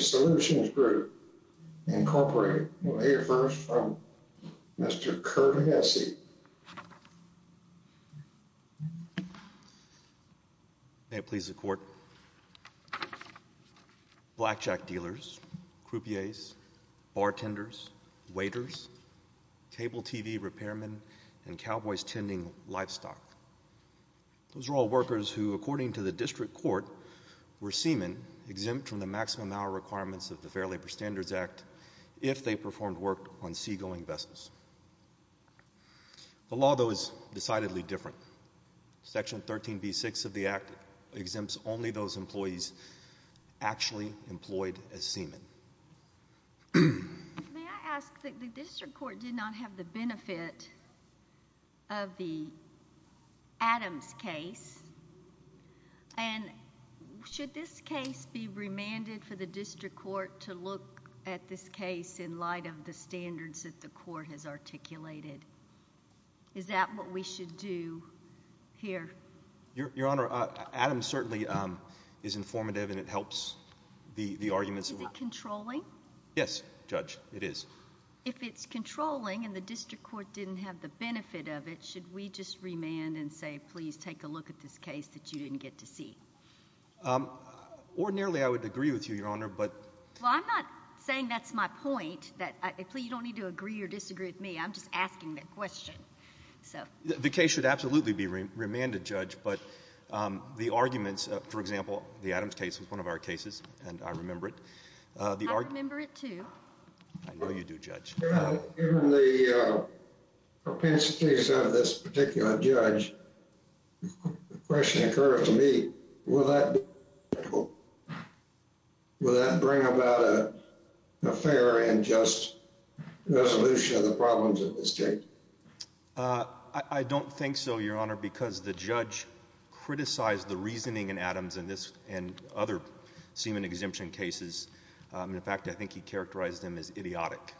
Solutions Group, Incorporated. We'll hear first from Mr. Kurt Hesse. May it please the court. Blackjack dealers, croupiers, bartenders, waiters, cable tv repairmen, and cowboy's tending livestock. Those are all workers who, according to the district court, were seamen exempt from the maximum hour requirements of the Fair Labor Standards Act if they performed work on seagoing vessels. The law though is decidedly different. Section 13b-6 of the Act exempts only those employees actually employed as seamen. May I ask that the district court did not have the benefit of the Adams case and should this case be remanded for the district court to look at this case in light of the standards that the court has articulated? Is that what we should do here? Your honor, Adams certainly is informative and it helps the the arguments. Is it controlling? Yes, judge, it is. If it's controlling and the district court didn't have the benefit of it, should we just remand and say please take a look at this case that you didn't get to see? Ordinarily, I would agree with you, your honor, but... Well, I'm not saying that's my point, that you don't need to agree or disagree with me. I'm just asking that question. The case should absolutely be remanded, judge, but the arguments, for example, the Adams case was one of our cases and I remember it. I remember it too. I know you do, judge. Given the propensities of this particular judge, the question occurs to me, will that bring about a fair and just resolution of the problems of the state? I don't think so, your honor, because the judge criticized the reasoning in Adams and other semen exemption cases. In fact, I think he characterized him as idiotic.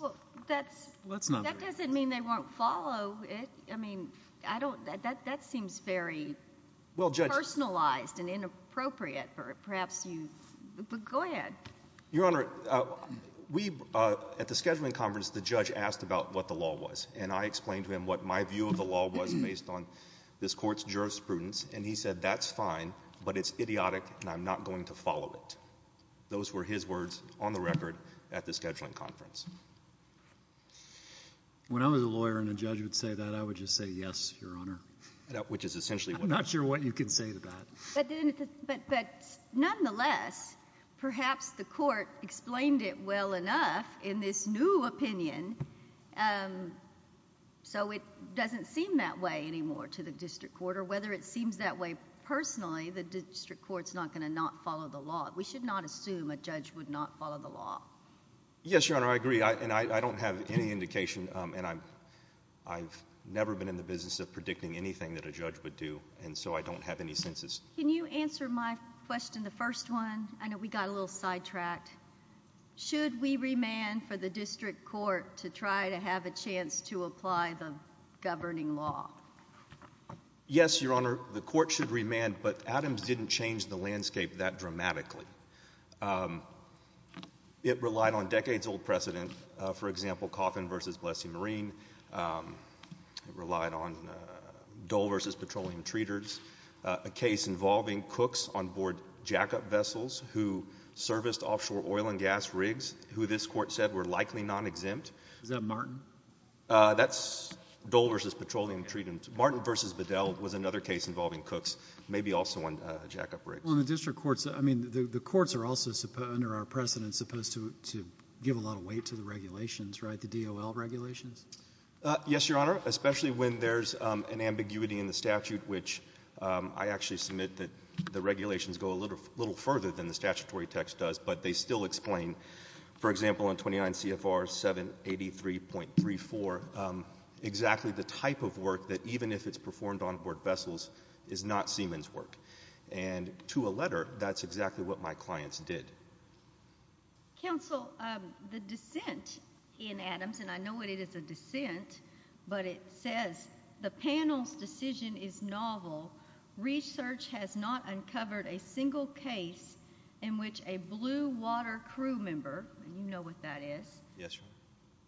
Well, that doesn't mean they won't follow it. I mean, I don't, that seems very personalized and inappropriate for perhaps you, but go ahead. Your honor, we, at the scheduling conference, the judge asked about what the law was and I explained to him what my view of the law was based on this court's jurisprudence and he said, that's fine, but it's idiotic and I'm not going to follow it. Those were his words on the record at the scheduling conference. When I was a lawyer and a judge would say that, I would just say yes, your honor. Which is essentially what I'm saying. I'm not sure what you can say to that. But nonetheless, perhaps the court explained it well enough in this new opinion and so it doesn't seem that way anymore to the district court or whether it seems that way personally, the district court's not going to not follow the law. We should not assume a judge would not follow the law. Yes, your honor, I agree and I don't have any indication and I've never been in the business of predicting anything that a judge would do and so I don't have any senses. Can you answer my question, the first one? I know we got a little sidetracked. Should we try to have a chance to apply the governing law? Yes, your honor, the court should remand, but Adams didn't change the landscape that dramatically. It relied on decades old precedent, for example, Coffin v. Blessee Marine. It relied on Dole v. Petroleum Treaters, a case involving cooks on board jackup vessels who serviced offshore oil and gas rigs, who this court said were likely non-exempt. Is that Martin? That's Dole v. Petroleum Treaters. Martin v. Bedell was another case involving cooks, maybe also on jackup rigs. Well, in the district courts, I mean, the courts are also, under our precedent, supposed to give a lot of weight to the regulations, right, the DOL regulations? Yes, your honor, especially when there's an ambiguity in the statute, which I actually submit that the regulations go a little further than the statutory text does, but they still explain, for example, in 29 CFR 783.34, exactly the type of work that, even if it's performed on board vessels, is not seamen's work. And to a letter, that's exactly what my clients did. Counsel, the dissent in Adams, and I know it is a dissent, but it says, the panel's decision is novel. Research has not uncovered a single case in which a blue water crew member, and you know what that is,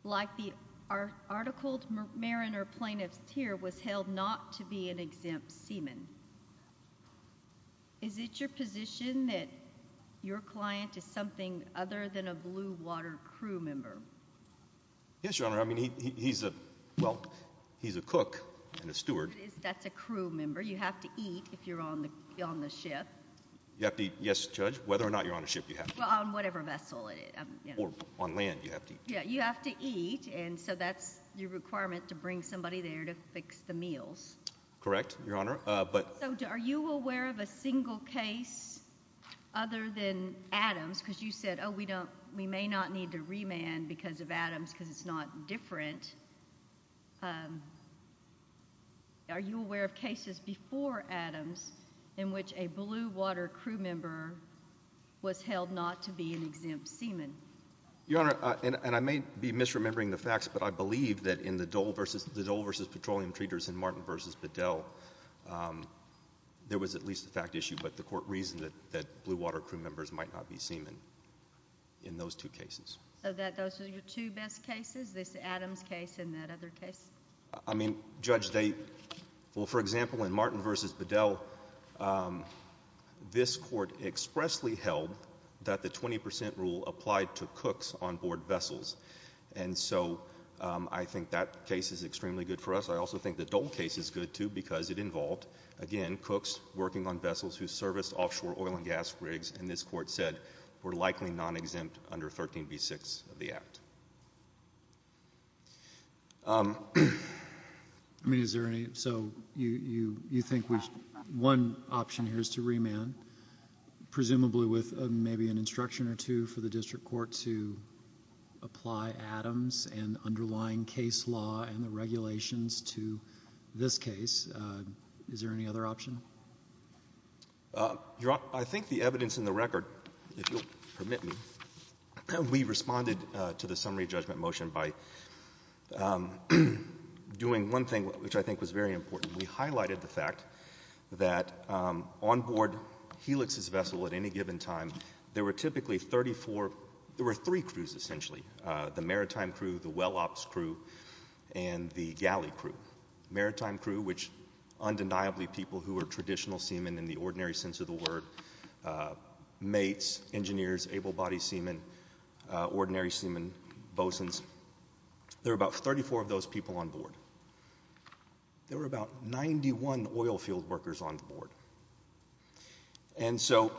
like the articled mariner plaintiff here, was held not to be an exempt seaman. Is it your position that your client is something other than a blue water crew member? Yes, your honor, I mean, he's a, well, he's a cook and a steward. That's a crew member. You have to eat if you're on the ship. You have to eat, yes, judge, whether or not you're on a ship, you have to eat. Well, on whatever vessel. Or on land, you have to eat. Yeah, you have to eat, and so that's your requirement to bring somebody there to fix the meals. Correct, your honor, but. So are you aware of a single case other than Adams? Because you said, oh, we don't, we may not need to remand because of Adams because it's not different. Are you aware of cases before Adams in which a blue water crew member was held not to be an exempt seaman? Your honor, and I may be misremembering the facts, but I believe that in the Dole versus Petroleum Treaters and Martin versus Bedell, there was at least a fact issue, but the court reasoned that blue water crew members might not be seamen in those two cases. So those are your two best cases, this Adams case and that other case? I mean, Judge, they, well, for example, in Martin versus Bedell, this court expressly held that the 20% rule applied to cooks on board vessels, and so I think that case is extremely good for us. I also think the Dole case is good, too, because it involved, again, cooks working on vessels who serviced offshore oil and gas rigs, and this court said were likely non-exempt under 13b6 of the act. I mean, is there any, so you think one option here is to remand, presumably with maybe an instruction or two for the district court to apply Adams and underlying case law and the regulations to this case. Is there any other option? Your Honor, I think the evidence in the record, if you'll permit me, we responded to the summary judgment motion by doing one thing which I think was very important. We highlighted the fact that on board Helix's vessel at any given time, there were typically 34, there were three crews essentially, the maritime crew, the well ops crew, and the galley crew. Maritime crew, which undeniably people who are traditional seamen in the ordinary sense of the word, mates, engineers, able-bodied seamen, ordinary seamen, bosons, there were about 34 of those people on board. There were about 91 oil field workers on board, and so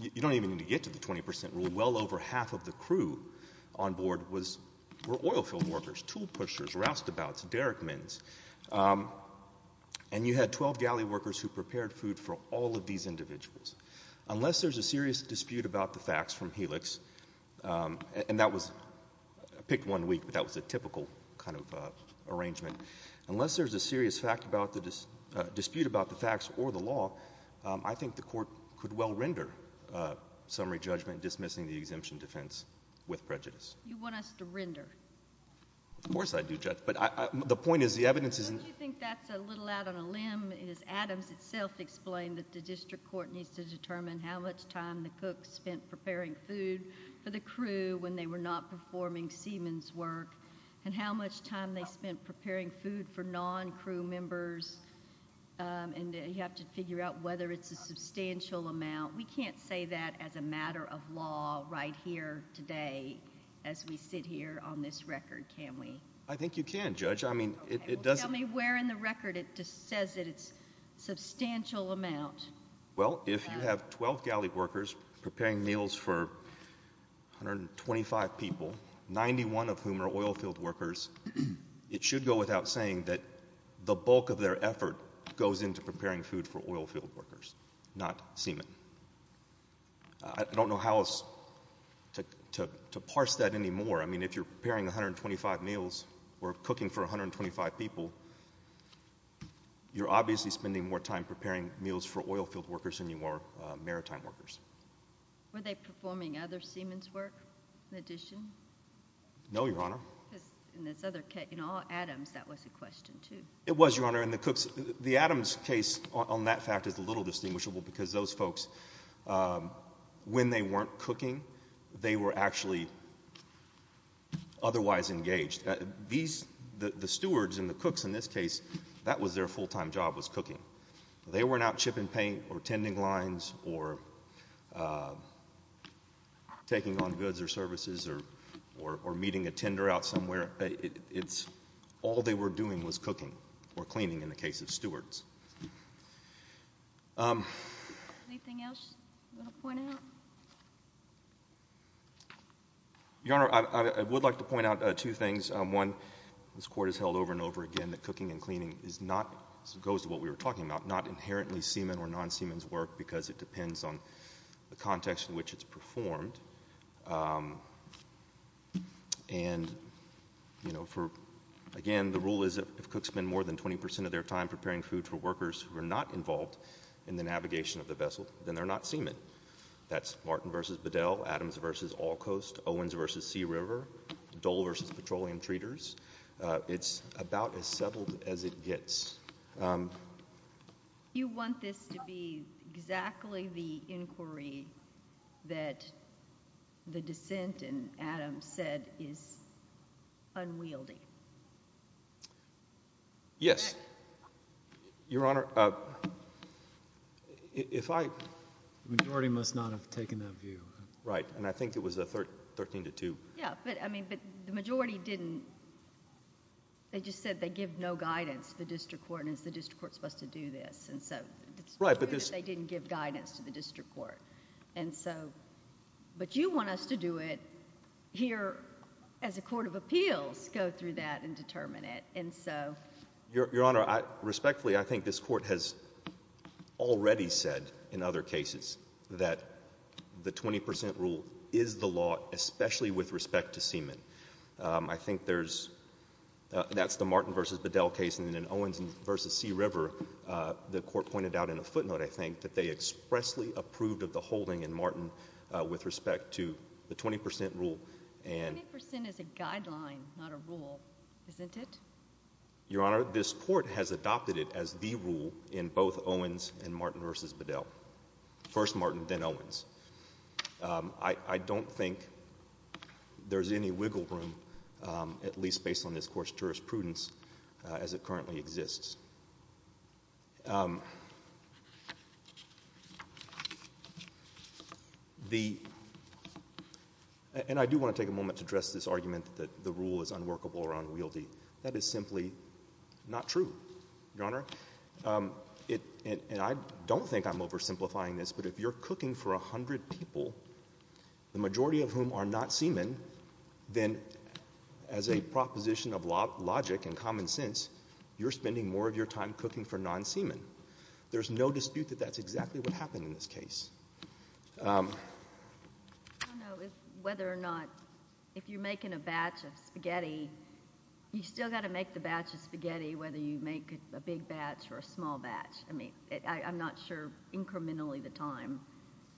you don't even need to get to the 20% rule. Well over half of the crew on board were oil field workers, tool pushers, roustabouts, derrickmans, and you had 12 galley workers who prepared food for all of these individuals. Unless there's a serious dispute about the facts from Helix, and that was picked one week but that was a typical kind of arrangement, unless there's a serious fact about the dispute about the facts or the law, I think the court could well render summary judgment dismissing exemption defense with prejudice. You want us to render? Of course I do, Judge, but the point is the evidence isn't... Don't you think that's a little out on a limb as Adams itself explained that the district court needs to determine how much time the cooks spent preparing food for the crew when they were not performing seamen's work, and how much time they spent preparing food for non-crew members, and you have to figure out whether it's a substantial amount. We can't say that as a matter of law right here today as we sit here on this record, can we? I think you can, Judge, I mean it doesn't... Tell me where in the record it just says that it's substantial amount. Well if you have 12 galley workers preparing meals for 125 people, 91 of whom are oil field workers, it should go without saying that the bulk of their effort goes into preparing food for oil field workers, not seamen. I don't know how to parse that anymore. I mean if you're preparing 125 meals or cooking for 125 people, you're obviously spending more time preparing meals for oil field workers than you are maritime workers. Were they performing other seamen's work in addition? No, Your Honor. Because in this other case, in all Adams, that was a question too. It was, Your Honor, in the last case on that fact is a little distinguishable because those folks, when they weren't cooking, they were actually otherwise engaged. These, the stewards and the cooks in this case, that was their full-time job was cooking. They weren't out chipping paint or tending lines or taking on goods or services or meeting a tender out somewhere. It's all they were doing was cooking or cleaning in the case of stewards. Anything else you want to point out? Your Honor, I would like to point out two things. One, this Court has held over and over again that cooking and cleaning is not, as it goes to what we were talking about, not inherently semen or non-semen's work because it depends on the context in which it's performed. And, you know, for, again, the rule is if cooks spend more than 20 percent of their time preparing food for workers who are not involved in the navigation of the vessel, then they're not semen. That's Martin v. Bedell, Adams v. Allcoast, Owens v. Sea River, Dole v. Petroleum Treaters. It's about as settled as it gets. You want this to be exactly the inquiry that the dissent in Adams said is unwieldy? Yes. Your Honor, if I... The majority must not have taken that view. Right, and I think it was a 13 to 2. Yeah, but, I mean, the majority didn't. They just said they give no guidance to the district court and it's the district court that's supposed to do this, and so it's true that they didn't give guidance to the district court. And so, but you want us to do it here as a court of appeals, go through that and determine it, and so... Your Honor, respectfully, I think this Court has already said in other cases that the 20 percent rule is the law, especially with respect to semen. I think there's, that's the Martin v. Bedell case, and then Owens v. Sea River, the Court pointed out in a footnote, I think, that they expressly approved of the holding in Martin with respect to the 20 percent rule and... 20 percent is a guideline, not a rule, isn't it? Your Honor, this Court has adopted it as the rule in both Owens and Martin v. Bedell. First Martin, then Owens. I don't think there's any wiggle room, at least based on this Court's jurisprudence, as it currently exists. The... And I do want to take a moment to address this argument that the rule is unworkable or unwieldy. That is simply not true, Your Honor. And I don't think I'm oversimplifying this, but if you're cooking for a hundred people, the majority of whom are not semen, then as a proposition of logic and common sense, you're spending more of your time cooking for non-semen. There's no dispute that that's exactly what happened in this case. I don't know whether or not, if you're making a batch of spaghetti, you still got to make the batch of spaghetti, whether you make a big batch or a small batch. I mean, I'm not sure incrementally the time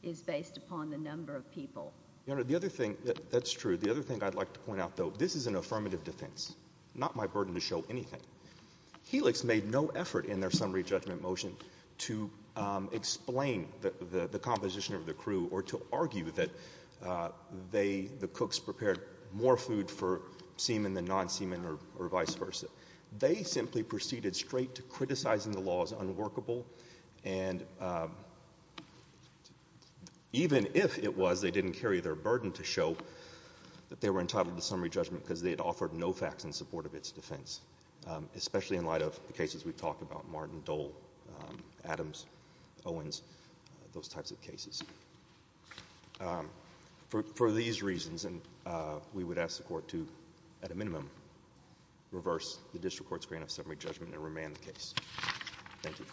is based upon the number of people. Your Honor, the other thing, that's true. The other thing I'd like to point out, though, this is an affirmative defense, not my burden to show anything. Helix made no effort in their composition of the crew or to argue that the cooks prepared more food for semen than non-semen or vice versa. They simply proceeded straight to criticizing the law as unworkable. And even if it was, they didn't carry their burden to show that they were entitled to summary judgment because they had offered no facts in support of its defense, especially in light of the cases we've talked about, Martin, Dole, Adams, Owens, those types of cases. For these reasons, we would ask the court to, at a minimum, reverse the district court's grant of summary judgment and remand the case. Thank you.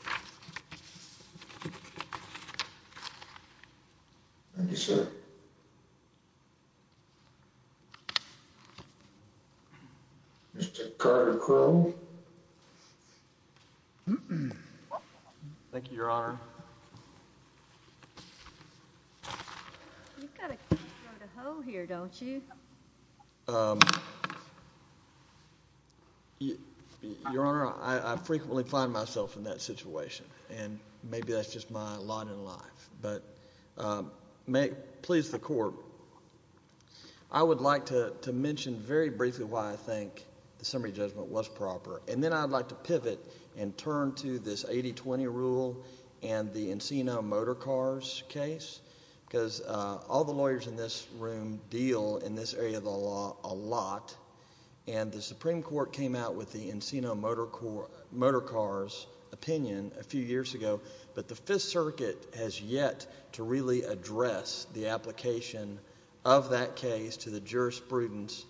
Thank you, sir. Mr. Carter Crowe. Thank you, Your Honor. You've got to go to hell here, don't you? Your Honor, I frequently find myself in that situation, and maybe that's just my lot in life. But please, the court, I would like to mention very briefly why I think the summary judgment was proper, and then I'd like to pivot and turn to this 80-20 rule and the Encino Motor Cars case, because all the lawyers in this room deal in this area of the law a lot, and the Supreme Court came out with the Encino Motor Cars opinion a few years ago, but the Fifth Circuit has yet to really address the application of that case to the jurisprudence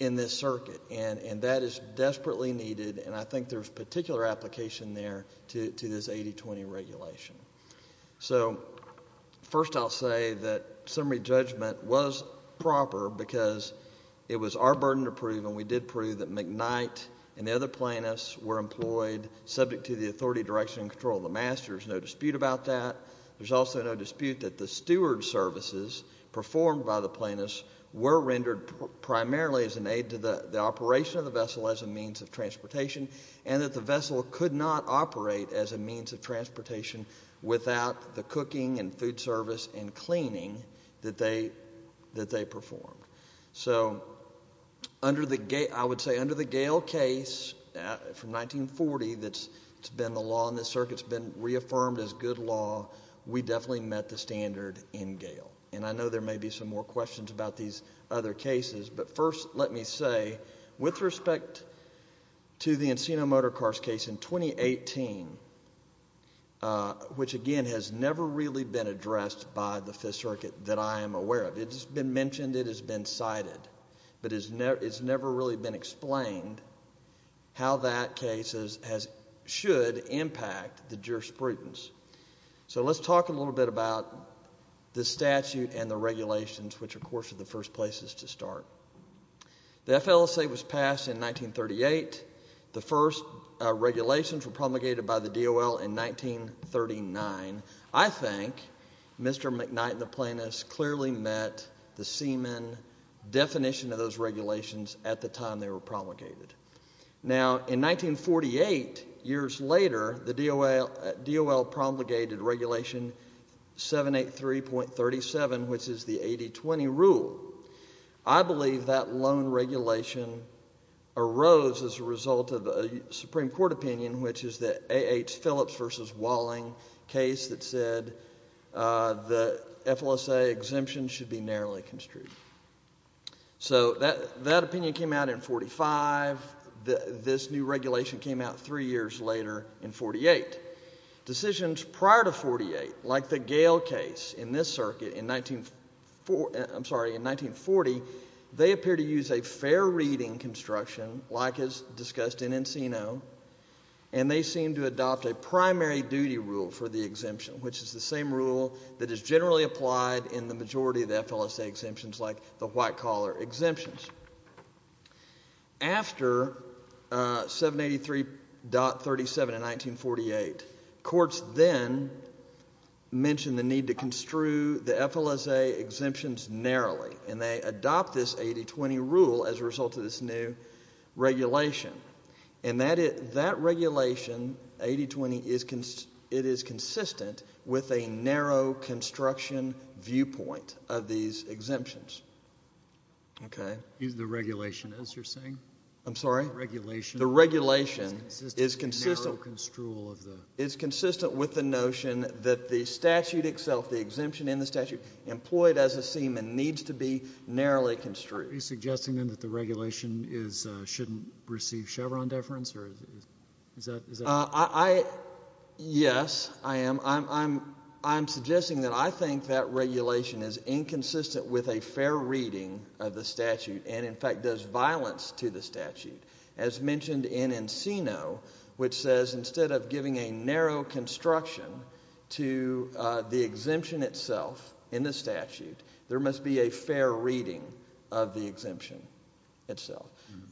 in this circuit, and that is desperately needed, and I think there's particular application there to this 80-20 regulation. So, first I'll say that summary judgment was proper because it was our burden to prove, and we did prove that McKnight and the other plaintiffs were employed subject to the authority, direction, and control of the master. There's no dispute about that. There's also no dispute that the steward services performed by the plaintiffs were rendered primarily as an aid to the operation of the vessel as a means of transportation, and that the vessel could not operate as a means of without the cooking and food service and cleaning that they performed. So, under the, I would say, under the Gale case from 1940 that's been the law in this circuit, it's been reaffirmed as good law, we definitely met the standard in Gale, and I know there may be some more questions about these other cases, but first let me say, with respect to the Encino Motor Cars case in 2018, which, again, has never really been addressed by the Fifth Circuit that I am aware of. It's been mentioned, it has been cited, but it's never really been explained how that case should impact the jurisprudence. So, let's talk a little bit about the statute and the regulations, which, of course, are the first places to start. The FLSA was passed in 1938. The first regulations were promulgated by the DOL in 1939. I think Mr. McKnight and the plaintiffs clearly met the seaman definition of those regulations at the time they were promulgated. Now, in 1948, years later, the DOL promulgated regulation 783.37, which is the 80-20 rule. I believe that loan regulation arose as a result of a Supreme Court opinion, which is the A.H. Phillips v. Walling case that said the FLSA exemption should be narrowly construed. So, that opinion came out in 45. This new regulation came out three years later in 48. Decisions prior to 48, like the Gale case in this circuit in 1940, they appear to use a fair reading construction, like is discussed in Encino, and they seem to adopt a primary duty rule for the exemption, which is the same rule that is generally applied in the majority of the courts. Courts then mentioned the need to construe the FLSA exemptions narrowly, and they adopt this 80-20 rule as a result of this new regulation. And that regulation, 80-20, it is consistent with a narrow construction viewpoint of these exemptions. Okay. Is the regulation, as you're saying, is consistent with the notion that the statute itself, the exemption in the statute employed as a seaman, needs to be narrowly construed? Are you suggesting then that the regulation shouldn't receive Chevron deference? Yes, I am. I'm suggesting that I think that regulation is inconsistent with a fair reading of the statute, and in fact does violence to the instead of giving a narrow construction to the exemption itself in the statute, there must be a fair reading of the exemption itself.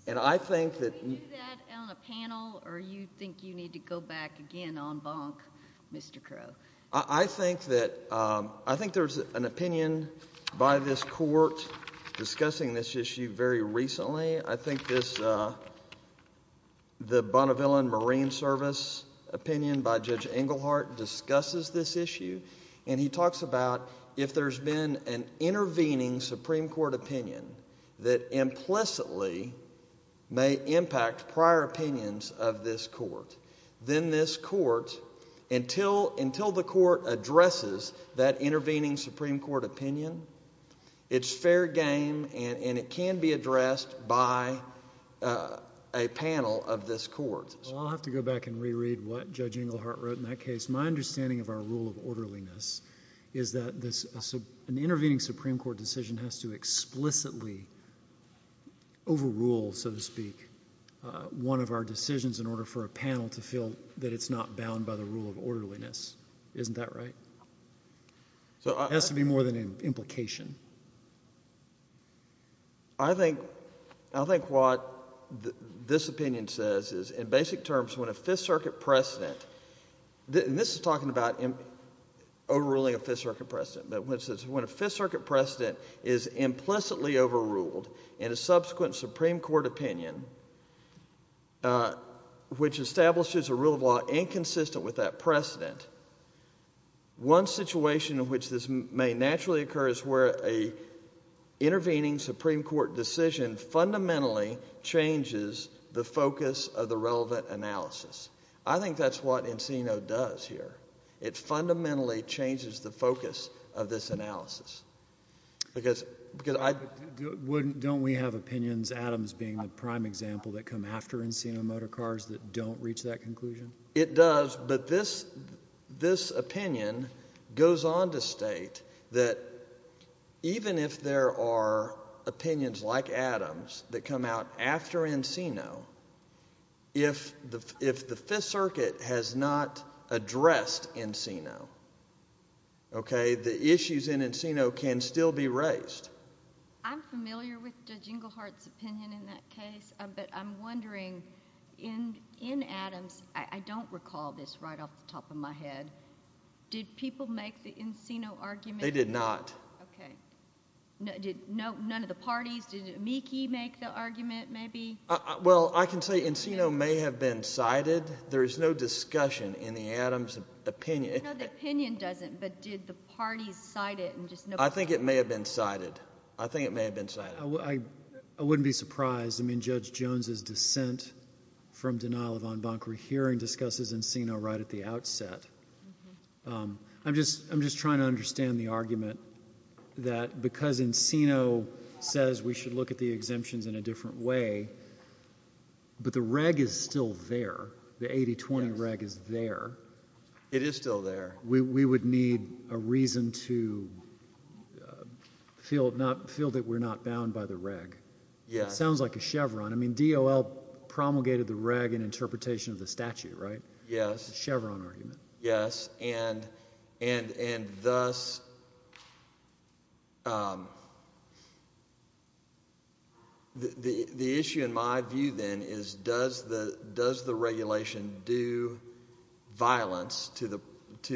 And I think that... Will you do that on a panel, or do you think you need to go back again on bonk, Mr. Crow? I think there's an opinion by this court discussing this issue very recently. I think this, the Bonnevillian Marine Service opinion by Judge Engelhardt discusses this issue, and he talks about if there's been an intervening Supreme Court opinion that implicitly may impact prior opinions of this court, then this court, until the court addresses that a panel of this court. Well, I'll have to go back and reread what Judge Engelhardt wrote in that case. My understanding of our rule of orderliness is that an intervening Supreme Court decision has to explicitly overrule, so to speak, one of our decisions in order for a panel to feel that it's not bound by the rule of orderliness. Isn't that right? It has to be more than an implication. I think what this opinion says is, in basic terms, when a Fifth Circuit precedent, and this is talking about overruling a Fifth Circuit precedent, but when it says, when a Fifth Circuit precedent is implicitly overruled in a subsequent Supreme Court opinion, which establishes a rule of law inconsistent with that precedent, one situation in which this may naturally occur is where an intervening Supreme Court decision fundamentally changes the focus of the relevant analysis. I think that's what Encino does here. It fundamentally changes the focus of this analysis, because I— But don't we have opinions, Adams being the prime example, that come after Encino motor cars that don't reach that conclusion? It does, but this opinion goes on to state that even if there are opinions like Adams that come out after Encino, if the Fifth Circuit has not addressed Encino, okay, the issues in Encino can still be raised. I'm familiar with Judge Englehart's opinion in that case, but I'm wondering, in Adams, I don't recall this right off the top of my head, did people make the Encino argument? They did not. Okay. Did none of the parties, did Amici make the argument, maybe? Well, I can say Encino may have been cited. There is no discussion in the Adams opinion. No, the opinion doesn't, but did the parties cite it? I think it may have been cited. I think it may have been cited. I wouldn't be surprised. I mean, Judge Jones's dissent from denial of en banc rehearing discusses Encino right at the outset. I'm just trying to understand the argument that because Encino says we should look at the exemptions in a different way, but the reg is still there, the 80-20 reg is there. It is still there. We would need a reason to feel that we're not bound by the reg. Yeah. It sounds like a Chevron. I mean, DOL promulgated the reg in interpretation of the statute, right? Yes. It's a Chevron argument. Yes, and thus, the issue in my view then is does the regulation do violence to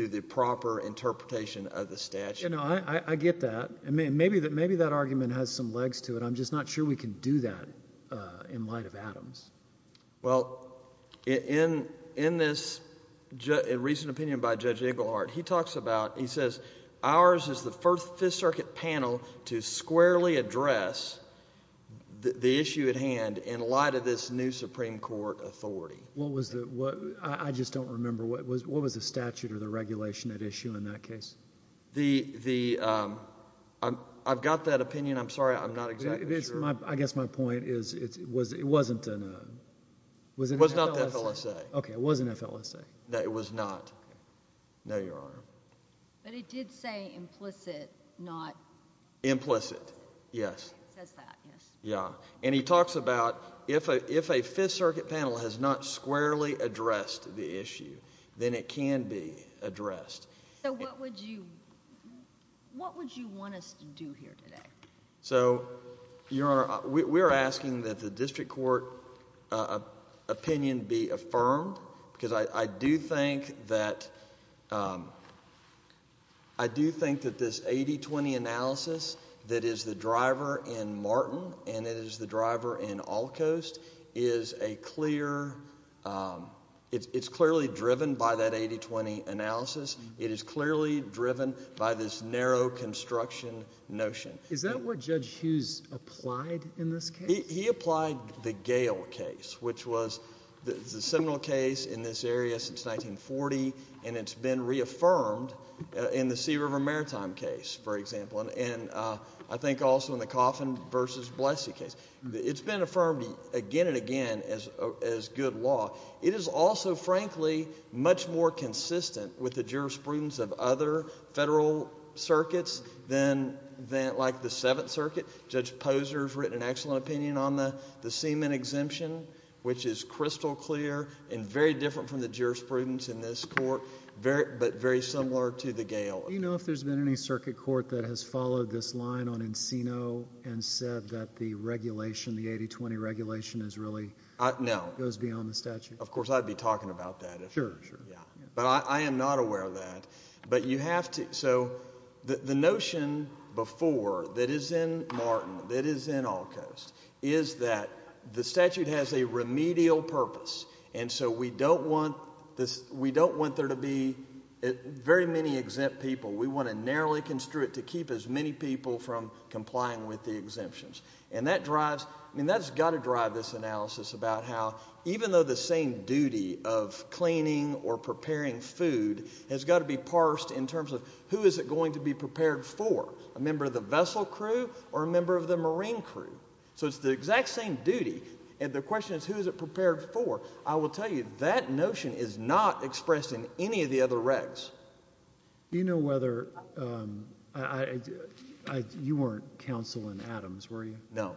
the proper interpretation of the statute? You know, I get that. Maybe that argument has some legs to it. I'm just not sure we can do that in light of Adams. Well, in this recent opinion by Judge Iglehart, he talks about, he says, ours is the first Fifth Circuit panel to squarely address the issue at hand in light of this new Supreme Court authority. What was the, I just don't remember, what was the statute or the regulation at issue in that case? I've got that opinion. I'm sorry, I'm not exactly sure. I guess my point is it wasn't an FLSA. Okay, it was an FLSA. No, it was not. No, Your Honor. But it did say implicit, not. Implicit, yes. It says that, yes. Yeah, and he talks about if a Fifth Circuit panel has not squarely addressed the issue, then it can be addressed. So what would you, what would you want us to do here today? So, Your Honor, we're asking that the district court opinion be affirmed, because I do think that, I do think that this 80-20 analysis that is the driver in Martin and it is the driver in Allcoast is a clear, it's clearly driven by that 80-20 analysis. It is clearly driven by this narrow construction notion. Is that what Judge Hughes applied in this case? He applied the Gale case, which was the seminal case in this area since 1940, and it's been reaffirmed in the Sea River Maritime case, for example, and I think also in the Coffin v. Blessie case. It's been affirmed again and again as good law. It is also, frankly, much more consistent with the jurisprudence of other federal circuits than, than like the Seventh Circuit. Judge Posner's written an excellent opinion on the, the semen exemption, which is crystal clear and very different from the jurisprudence in this court, very, but very similar to the Gale. Do you know if there's been any circuit court that has followed this line on Encino and said that the regulation, the 80-20 regulation is really, goes beyond the statute? Of course, I'd be talking about that. Sure, sure. But I am not aware of that, but you have to. So the notion before that is in Martin, that is in Allcoast, is that the statute has a remedial purpose. And so we don't want this, we don't want there to be very many exempt people. We want to narrowly construe it to keep as many people from complying with the exemptions. And that drives, I mean, that's got to drive this analysis about how, even though the same duty of cleaning or preparing food has got to be parsed in terms of who is it going to be prepared for, a member of the vessel crew or a member of the marine crew. So it's the exact same duty. And the question is, who is it prepared for? I will tell you, that notion is not expressed in any of the other regs. Do you know whether, you weren't counsel in Adams, were you? No.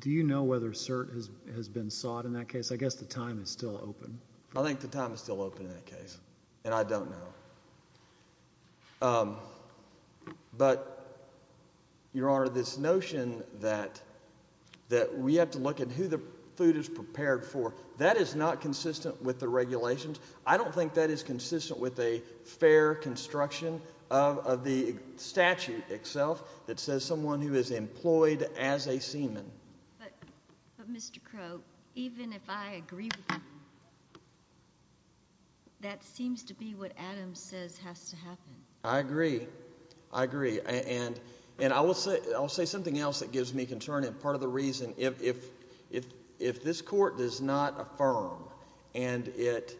Do you know whether cert has been sought in that case? I guess the time is still open. I think the time is still open in that case. And I don't know. But your honor, this notion that we have to look at who the food is prepared for, that is not consistent with the regulations. I don't think that is consistent with a fair construction of the statute itself But Mr. Crow, even if I agree with you, that seems to be what Adams says has to happen. I agree. I agree. And I will say something else that gives me concern. And part of the reason, if this court does not affirm and it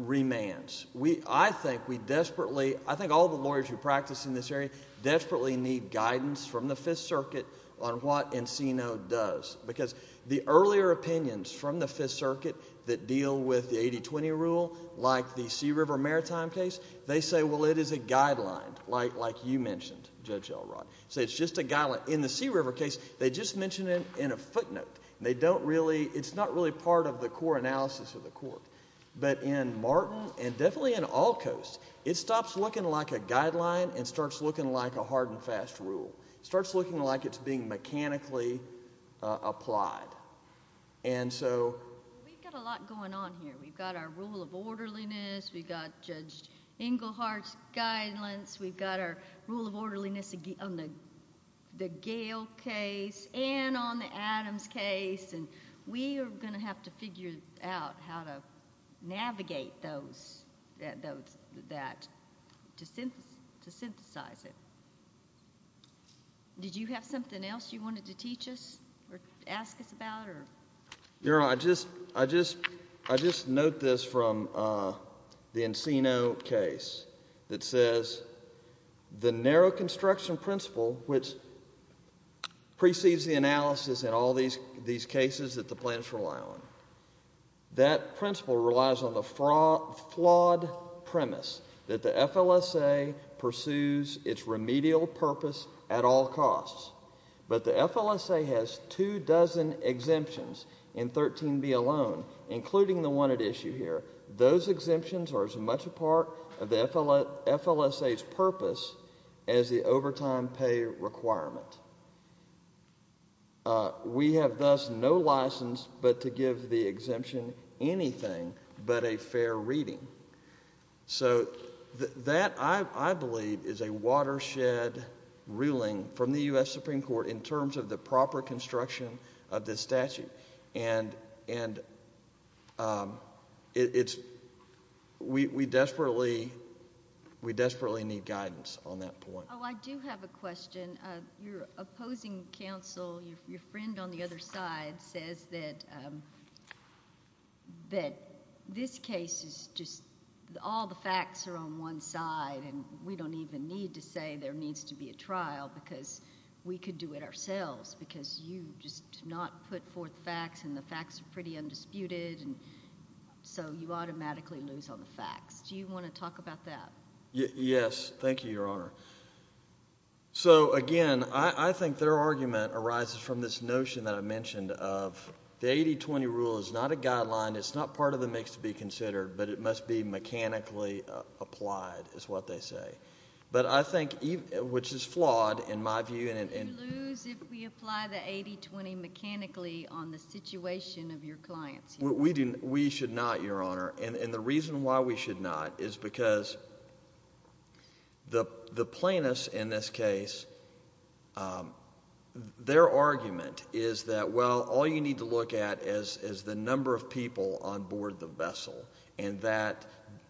remands, I think we desperately, I think all the lawyers who practice in this area desperately need guidance from the Fifth Circuit on what Encino does. Because the earlier opinions from the Fifth Circuit that deal with the 80-20 rule, like the Sea River Maritime case, they say, well, it is a guideline, like you mentioned, Judge Elrod. So it's just a guideline. In the Sea River case, they just mention it in a footnote. They don't really, it's not really part of the core analysis of the court. But in Martin, and definitely in all courts, it stops looking like a guideline and starts looking like a hard and fast rule. Starts looking like it's being mechanically applied. And so... We've got a lot going on here. We've got our rule of orderliness. We've got Judge Engelhardt's guidelines. We've got our rule of orderliness on the Gale case and on the Adams case. We are going to have to figure out how to navigate that to synthesize it. Did you have something else you wanted to teach us or ask us about? Your Honor, I just note this from the Encino case that says, the narrow construction principle, which precedes the analysis in all these cases that the plaintiffs rely on, that principle relies on the flawed premise that the FLSA pursues its remedial purpose at all costs. But the FLSA has two dozen exemptions in 13b alone, including the one at issue here. Those exemptions are as much a part of the FLSA's purpose as the overtime pay requirement. We have thus no license but to give the exemption anything but a fair reading. So that, I believe, is a watershed ruling from the U.S. Supreme Court in terms of the proper construction of this statute. And we desperately need guidance on that point. Oh, I do have a question. Your opposing counsel, your friend on the other side, says that this case is just, all the facts are on one side and we don't even need to say there needs to be a trial because we could do it ourselves because you just do not put forth facts and the facts are pretty undisputed and so you automatically lose on the facts. Do you want to talk about that? Yes, thank you, Your Honor. So again, I think their argument arises from this notion that I mentioned of, the 80-20 rule is not a guideline, it's not part of the mix to be considered, but it must be mechanically applied, is what they say. But I think, which is flawed in my view. Would you lose if we apply the 80-20 mechanically on the situation of your clients? We should not, Your Honor, and the reason why we should not is because the plaintiffs in this case, their argument is that, well, all you need to look at is the number of people on board the vessel and that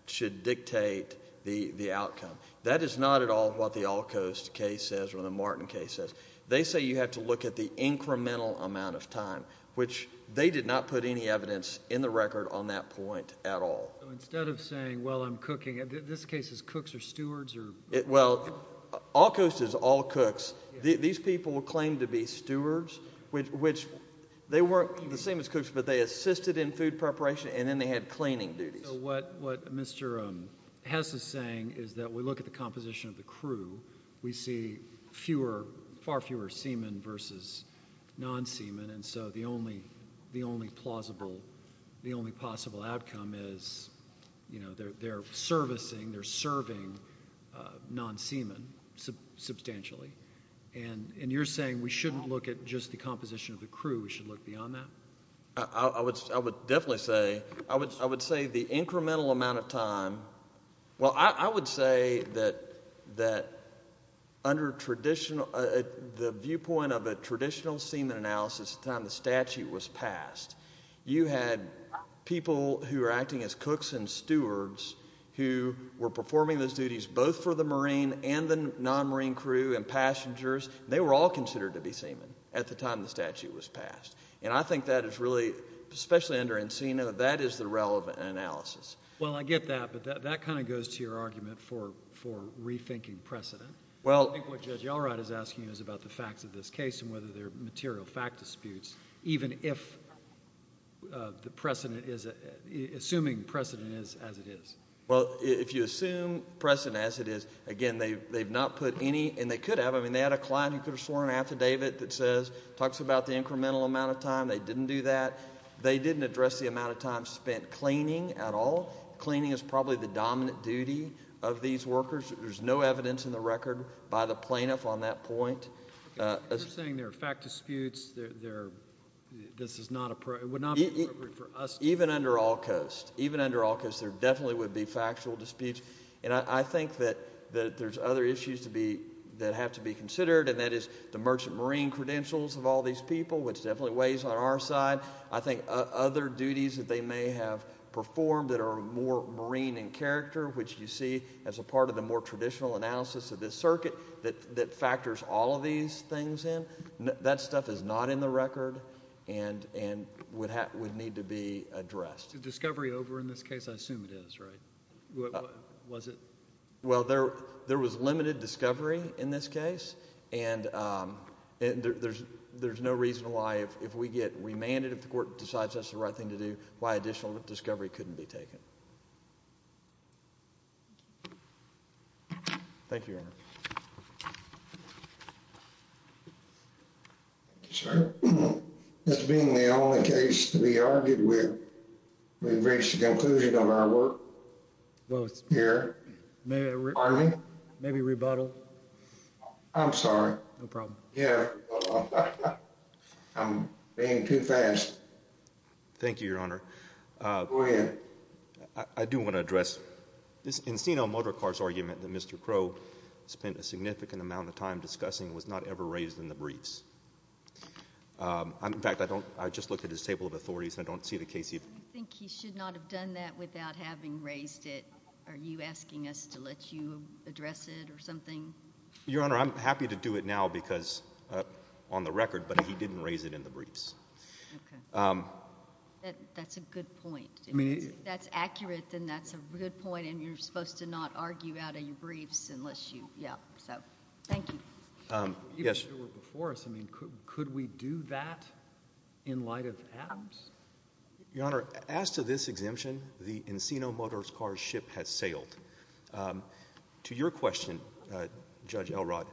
should dictate the outcome. That is not at all what the Allcoast case says or the Martin case says. They say you have to look at the incremental amount of time, which they did not put any evidence in the record on that point at all. Instead of saying, well, I'm cooking, this case is cooks or stewards? Well, Allcoast is all cooks. These people were claimed to be stewards, which they weren't the same as cooks, but they assisted in food preparation and then they had cleaning duties. What Mr. Hess is saying is that we look at the composition of the crew, we see far fewer seamen versus non-seamen, and so the only plausible, the only possible outcome is, you know, they're servicing, they're serving non-seamen substantially. And you're saying we shouldn't look at just the composition of the crew, we should look beyond that? I would definitely say, I would say the incremental amount of time, well, I would say that under the viewpoint of a traditional seamen analysis at the time the statute was passed, you had people who were acting as cooks and stewards who were performing those duties both for the marine and the non-marine crew and passengers. They were all considered to be seamen at the time the statute was passed. And I think that is really, especially under Encina, that is the relevant analysis. Well, I get that, but that kind of goes to your argument for rethinking precedent. Well, I think what Judge Elrod is asking is about the facts of this case and whether there are material fact disputes, even if the precedent is, assuming precedent is as it is. Well, if you assume precedent as it is, again, they've not put any, and they could have, I mean, they had a client who could have sworn an affidavit that says, talks about the incremental amount of time. They didn't do that. They didn't address the amount of time spent cleaning at all. Cleaning is probably the dominant duty of these workers. There's no evidence in the record by the plaintiff on that point. You're saying there are fact disputes. This is not appropriate, would not be appropriate for us. Even under Allcoast, even under Allcoast, there definitely would be factual disputes. And I think that there's other issues that have to be considered, and that is the merchant marine credentials of all these people, which definitely weighs on our side. I think other duties that they may have performed that are more marine in character, which you see as a part of the more traditional analysis of this circuit that factors all of these things in, that stuff is not in the record and would need to be addressed. Discovery over in this case, I assume it is, right? Was it? Well, there was limited discovery in this case. And there's no reason why, if we get remanded, if the court decides that's the right thing to do, why additional discovery couldn't be taken. Thank you, Your Honor. Thank you, sir. This being the only case to be argued with, we've reached a conclusion on our work here. Pardon me? Maybe rebuttal? I'm sorry. No problem. Yeah. I'm being too fast. Thank you, Your Honor. Go ahead. I do want to address this Encino Motor Car's argument that Mr. Crow spent a significant amount of time discussing and was not ever raised in the briefs. In fact, I just looked at his table of authorities and I don't see the case here. Do you think he should not have done that without having raised it? Are you asking us to let you address it or something? Your Honor, I'm happy to do it now on the record, but he didn't raise it in the briefs. That's a good point. If that's accurate, then that's a good point. And you're supposed to not argue out of your briefs unless you—yeah. So, thank you. Even if you were before us, could we do that in light of Adams? Your Honor, as to this exemption, the Encino Motor Car's ship has sailed. To your question, Judge Elrod,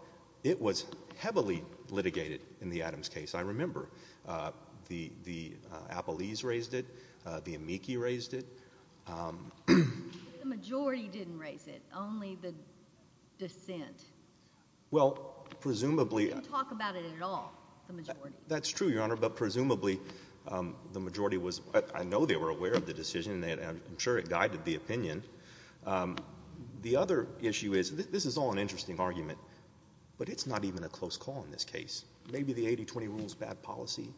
it was heavily litigated in the Adams case. I remember the Appellees raised it. The amici raised it. The majority didn't raise it. Only the dissent. Well, presumably— They didn't talk about it at all, the majority. That's true, Your Honor, but presumably the majority was—I know they were aware of the decision, and I'm sure it guided the opinion. The other issue is—this is all an interesting argument, but it's not even a close call in this case. Maybe the 80-20 rule is bad policy.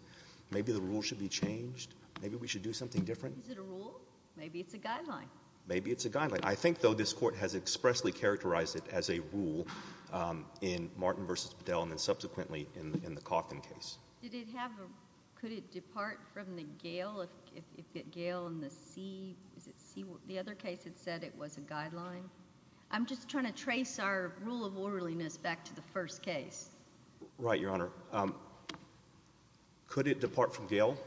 Maybe the rule should be changed. Maybe we should do something different. Is it a rule? Maybe it's a guideline. Maybe it's a guideline. I think, though, this Court has expressly characterized it as a rule in Martin v. Bedell and then subsequently in the Coffin case. Did it have a—could it depart from the Gail if it—Gail and the C—is it C—the other case, it said it was a guideline. I'm just trying to trace our rule of orderliness back to the first case. Right, Your Honor. Could it depart from Gail?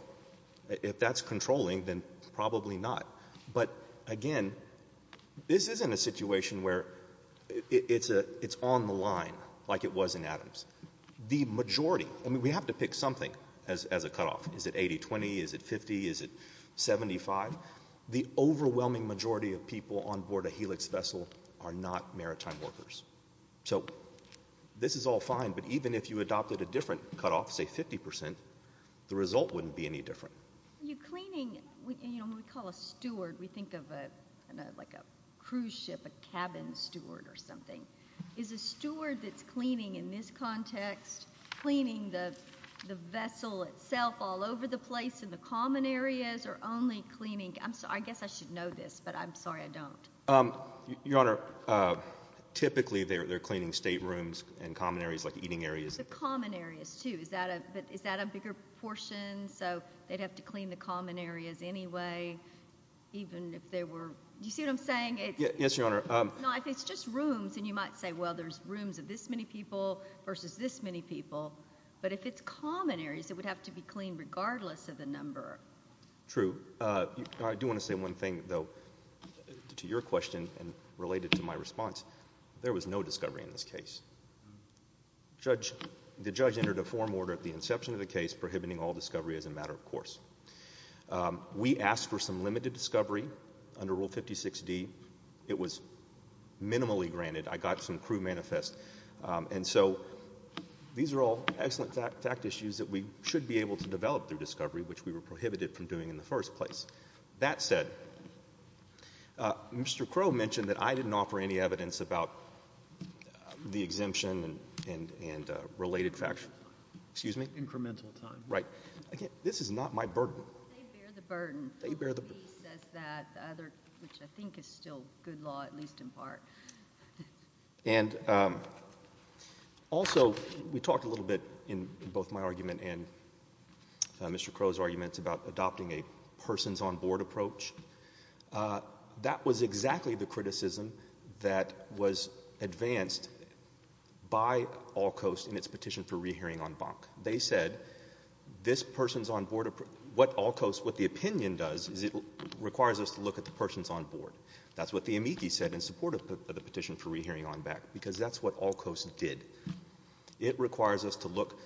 If that's controlling, then probably not. But, again, this isn't a situation where it's on the line like it was in Adams. The majority—I mean, we have to pick something as a cutoff. Is it 80-20? Is it 50? Is it 75? The overwhelming majority of people on board a Helix vessel are not maritime workers. So this is all fine, but even if you adopted a different cutoff, say 50 percent, the result wouldn't be any different. You're cleaning—you know, when we call a steward, we think of a—like a cruise ship, a cabin steward or something. Is a steward that's cleaning in this context cleaning the vessel itself all over the place in the common areas or only cleaning—I'm sorry, I guess I should know this, but I'm sorry I don't. Your Honor, typically they're cleaning state rooms and common areas like eating areas. The common areas, too. Is that a—is that a bigger portion? So they'd have to clean the common areas anyway, even if they were—do you see what I'm saying? Yes, Your Honor. No, if it's just rooms, then you might say, well, there's rooms of this many people versus this many people. But if it's common areas, it would have to be cleaned regardless of the number. True. I do want to say one thing, though, to your question and related to my response. There was no discovery in this case. Judge—the judge entered a form order at the inception of the case prohibiting all discovery as a matter of course. We asked for some limited discovery under Rule 56D. It was minimally granted. I got some crew manifest. And so these are all excellent fact issues that we should be able to develop through discovery, which we were prohibited from doing in the first place. That said, Mr. Crowe mentioned that I didn't offer any evidence about the exemption and related fact—excuse me? Incremental time. Right. This is not my burden. They bear the burden. They bear the burden. He says that, which I think is still good law, at least in part. And also, we talked a little bit in both my argument and Mr. Crowe's arguments about adopting a person's on board approach. That was exactly the criticism that was advanced by Allcoast in its petition for rehearing on Bonk. They said this person's on board—what Allcoast, what the opinion does is it requires us to look at the person's on board. That's what the amici said in support of the petition for rehearing on Bank, because that's what Allcoast did. It requires us to look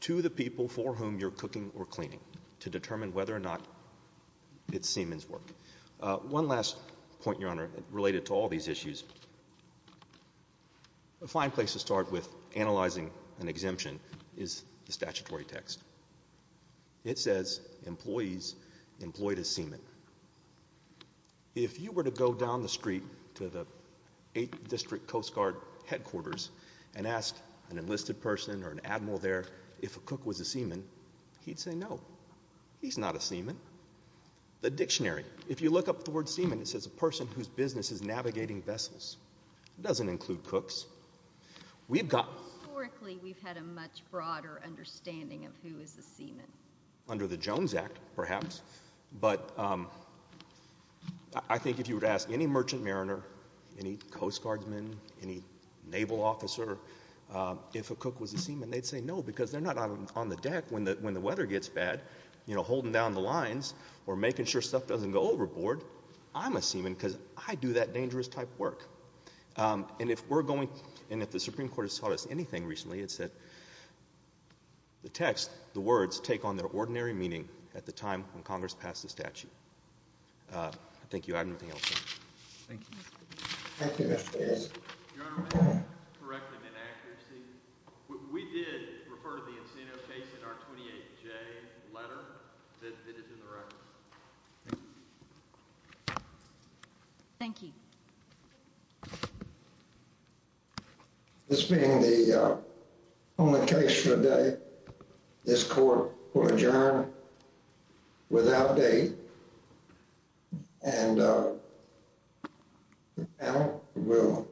to the people for whom you're cooking or cleaning to determine whether or not it's Siemens' work. One last point, Your Honor, related to all these issues. A fine place to start with analyzing an exemption is the statutory text. It says, employees employed as Siemen. If you were to go down the street to the 8th District Coast Guard headquarters and ask an enlisted person or an admiral there if a cook was a Siemen, he'd say no, he's not a Siemen. The dictionary, if you look up the word Siemen, it says a person whose business is navigating vessels. It doesn't include cooks. We've got— Historically, we've had a much broader understanding of who is a Siemen. Under the Jones Act, perhaps. But I think if you were to ask any merchant mariner, any Coast Guardsman, any naval officer if a cook was a Siemen, they'd say no, because they're not on the deck when the weather gets bad, you know, holding down the lines or making sure stuff doesn't go overboard. I'm a Siemen because I do that dangerous type work. And if we're going—and if the Supreme Court has taught us anything recently, it's that the text, the words, take on their ordinary meaning at the time when Congress passed the statute. Thank you. I don't have anything else. Thank you. Thank you, Mr. Bates. Your Honor, may I correct an inaccuracy? We did refer to the Encino case in our 28J letter that is in the record. Thank you. Thank you. This being the only case for the day, this Court will adjourn without date, and the panel will